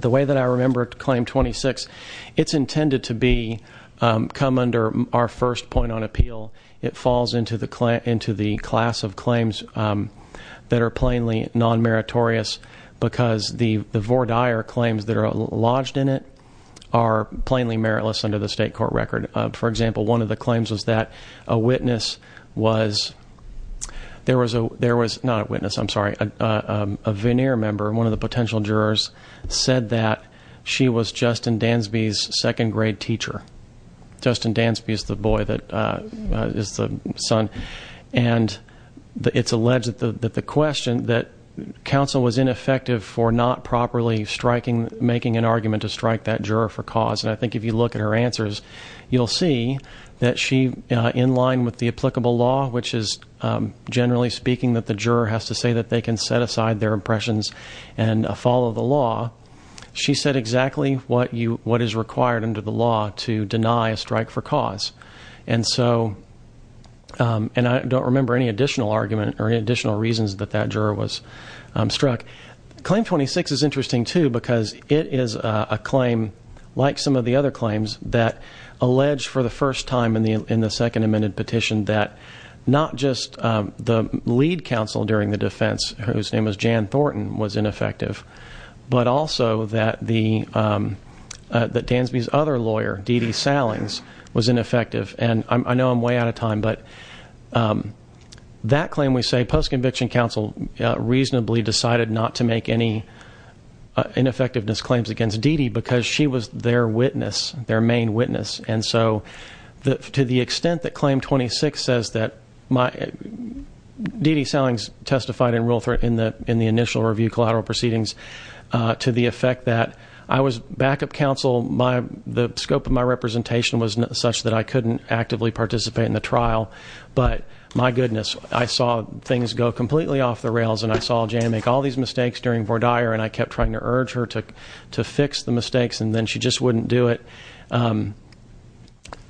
the way that I remember to claim 26 it's intended to be come under our first point on appeal it falls into the client into the class of claims that are plainly non-meritorious because the the Vorda or claims that are lodged in it are plainly meritless under the state court record for example one of the claims was that a witness was there was a there was not a witness I'm sorry a veneer member one of the potential jurors said that she was Justin Dansby second-grade teacher Justin Dansby is the boy that is the son and it's alleged that the question that counsel was ineffective for not properly striking making an argument to strike that juror for cause and I think if you look at her answers you'll see that she in line with the applicable law which is generally speaking that the juror has to say that they can set aside their impressions and follow the law she said exactly what you what is required under the law to deny a strike for cause and so and I don't remember any additional argument or additional reasons that that juror was struck claim 26 is interesting too because it is a claim like some of the other claims that alleged for the first time in the in the second amended petition that not just the lead counsel during the defense whose name is Jan Thornton was ineffective but also that the that Dansby's other lawyer DeeDee Sallings was ineffective and I know I'm way out of time but that claim we say post-conviction counsel reasonably decided not to make any ineffectiveness claims against DeeDee because she was their witness their main witness and so that to the extent that claim 26 says that my DeeDee Sallings testified in rule 3 in the in the initial review collateral proceedings to the effect that I was backup counsel by the scope of my representation was not such that I couldn't actively participate in the trial but my goodness I saw things go completely off the rails and I saw Jan make all these mistakes during for Dyer and I kept trying to urge her to to fix the mistakes and then she just wouldn't do it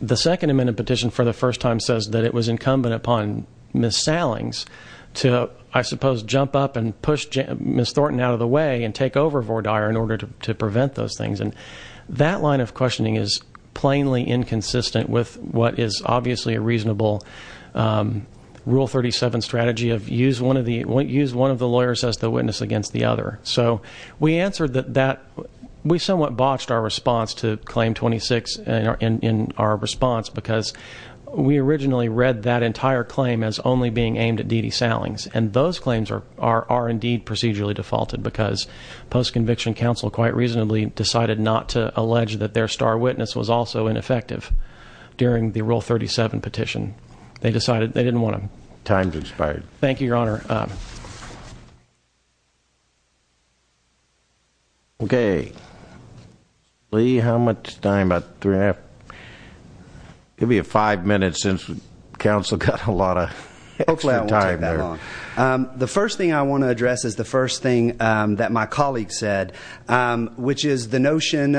the second amendment petition for the first time says that it was incumbent upon miss Sallings to I suppose jump up and push miss Thornton out of the way and take over for Dyer in order to prevent those things and that line of questioning is plainly inconsistent with what is obviously a reasonable rule 37 strategy of use one of the won't use one of the lawyers as the witness against the other so we answered that that we somewhat botched our response to claim 26 and in our response because we originally read that entire claim as only being aimed at DeeDee Sallings and those claims are are indeed procedurally defaulted because post-conviction counsel quite reasonably decided not to allege that their star witness was also ineffective during the rule 37 petition they decided they didn't want to time to expire thank you your honor okay Lee how much time about three half give me a five minutes since council got a lot of time the first thing I want to address is the first thing that my colleague said which is the notion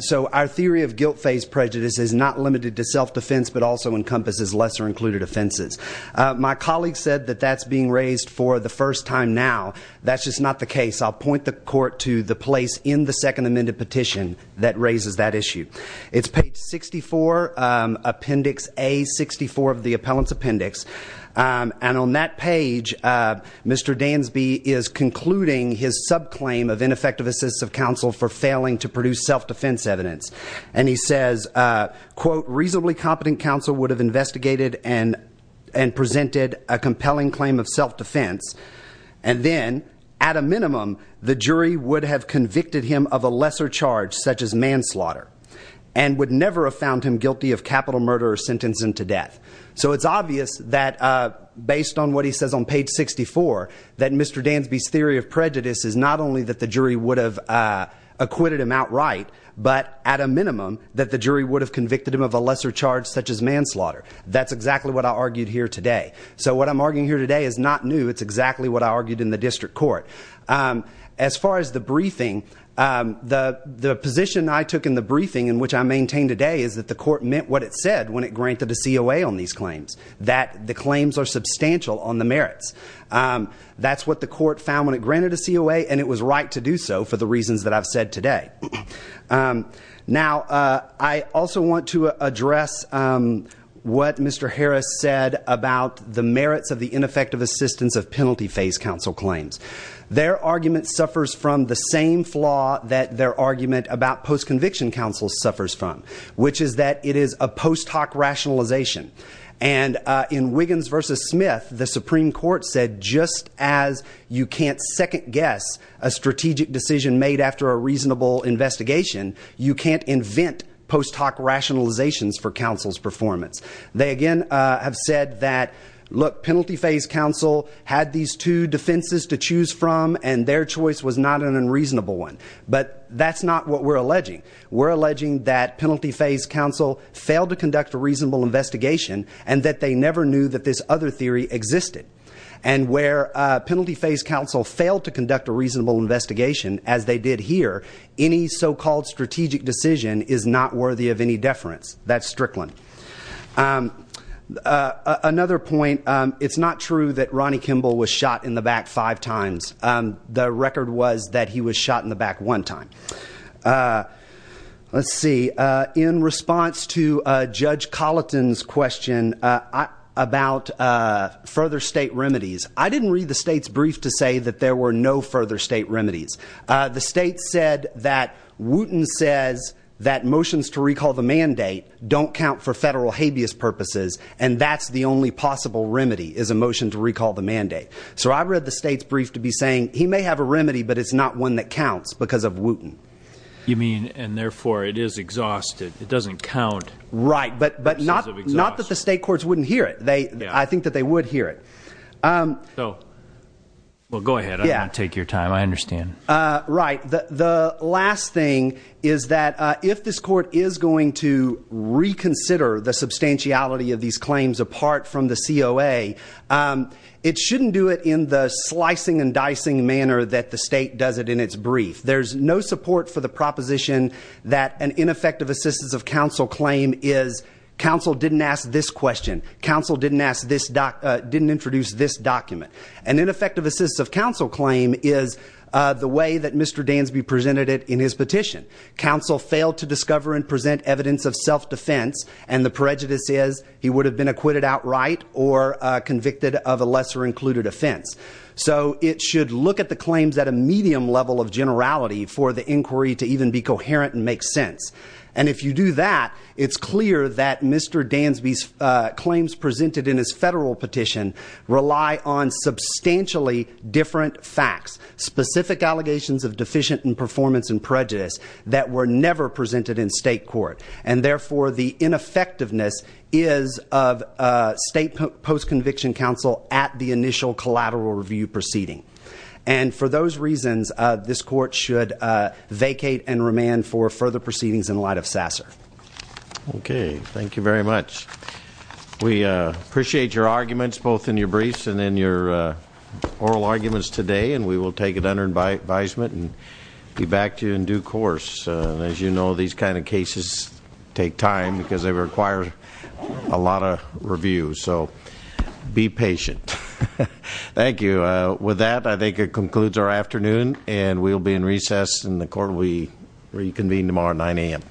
so our theory of guilt-faced prejudice is not limited to self-defense but also encompasses lesser included offenses my colleague said that that's being raised for the first time now that's just not the case I'll point the court to the place in the second amended petition that raises that issue it's paid 64 appendix a 64 of the appellant's appendix and on that page mr. Dansby is concluding his sub claim of ineffective assistive counsel for failing to produce self-defense evidence and he says quote reasonably competent counsel would have investigated and and presented a compelling claim of self-defense and then at a minimum the jury would have convicted him of a lesser charge such as manslaughter and would never have found him guilty of capital murder or sentencing to death so it's obvious that based on what he says on page 64 that mr. Dansby's theory of prejudice is not only that the jury would have acquitted him outright but at a minimum that the lesser charge such as manslaughter that's exactly what I argued here today so what I'm arguing here today is not new it's exactly what I argued in the district court as far as the briefing the the position I took in the briefing in which I maintain today is that the court meant what it said when it granted a COA on these claims that the claims are substantial on the merits that's what the court found when it granted a COA and it was right to do so for the reasons that I've said today now I also want to address what mr. Harris said about the merits of the ineffective assistance of penalty phase counsel claims their argument suffers from the same flaw that their argument about post conviction counsel suffers from which is that it is a post hoc rationalization and in Wiggins versus Smith the Supreme Court said just as you can't second-guess a strategic decision made after a reasonable investigation you can't invent post hoc rationalizations for counsel's performance they again have said that look penalty phase counsel had these two defenses to choose from and their choice was not an unreasonable one but that's not what we're alleging we're alleging that penalty phase counsel failed to conduct a reasonable investigation and that they never knew that this other theory existed and where penalty phase counsel failed to conduct a reasonable investigation as they did here any so-called strategic decision is not worthy of any deference that's Strickland another point it's not true that Ronnie Kimball was shot in the back five times the record was that he was shot in the back one time let's see in response to judge Colleton's question about further state remedies I didn't read the state's brief to say that there were no further state remedies the state said that Wooten says that motions to recall the mandate don't count for federal habeas purposes and that's the only possible remedy is a motion to recall the mandate so I read the state's brief to be saying he may have a remedy but it's not one that counts because of Wooten you mean and therefore it is exhausted it doesn't count right but but not that the state courts wouldn't hear it they I think that they would hear it so well go ahead yeah take your time I understand right the last thing is that if this court is going to reconsider the substantiality of these claims apart from the COA it shouldn't do it in the slicing and dicing manner that the state does it in its brief there's no support for the proposition that an ineffective assistance of counsel claim is counsel didn't ask this question counsel didn't ask this doc didn't introduce this document an ineffective assist of counsel claim is the way that mr. Dansby presented it in his petition counsel failed to discover and present evidence of self-defense and the prejudice is he would have been acquitted outright or convicted of a lesser included offense so it should look at the claims at a medium level of generality for the if you do that it's clear that mr. Dansby's claims presented in his federal petition rely on substantially different facts specific allegations of deficient and performance and prejudice that were never presented in state court and therefore the ineffectiveness is of state post-conviction counsel at the initial collateral review proceeding and for those reasons this court should vacate and remand for further proceedings in light of Sasser okay thank you very much we appreciate your arguments both in your briefs and in your oral arguments today and we will take it under by advisement and be back to you in due course as you know these kind of cases take time because they require a lot of review so be patient thank you with that I think it concludes our afternoon and we'll be in recess and the court we reconvene tomorrow 9 a.m.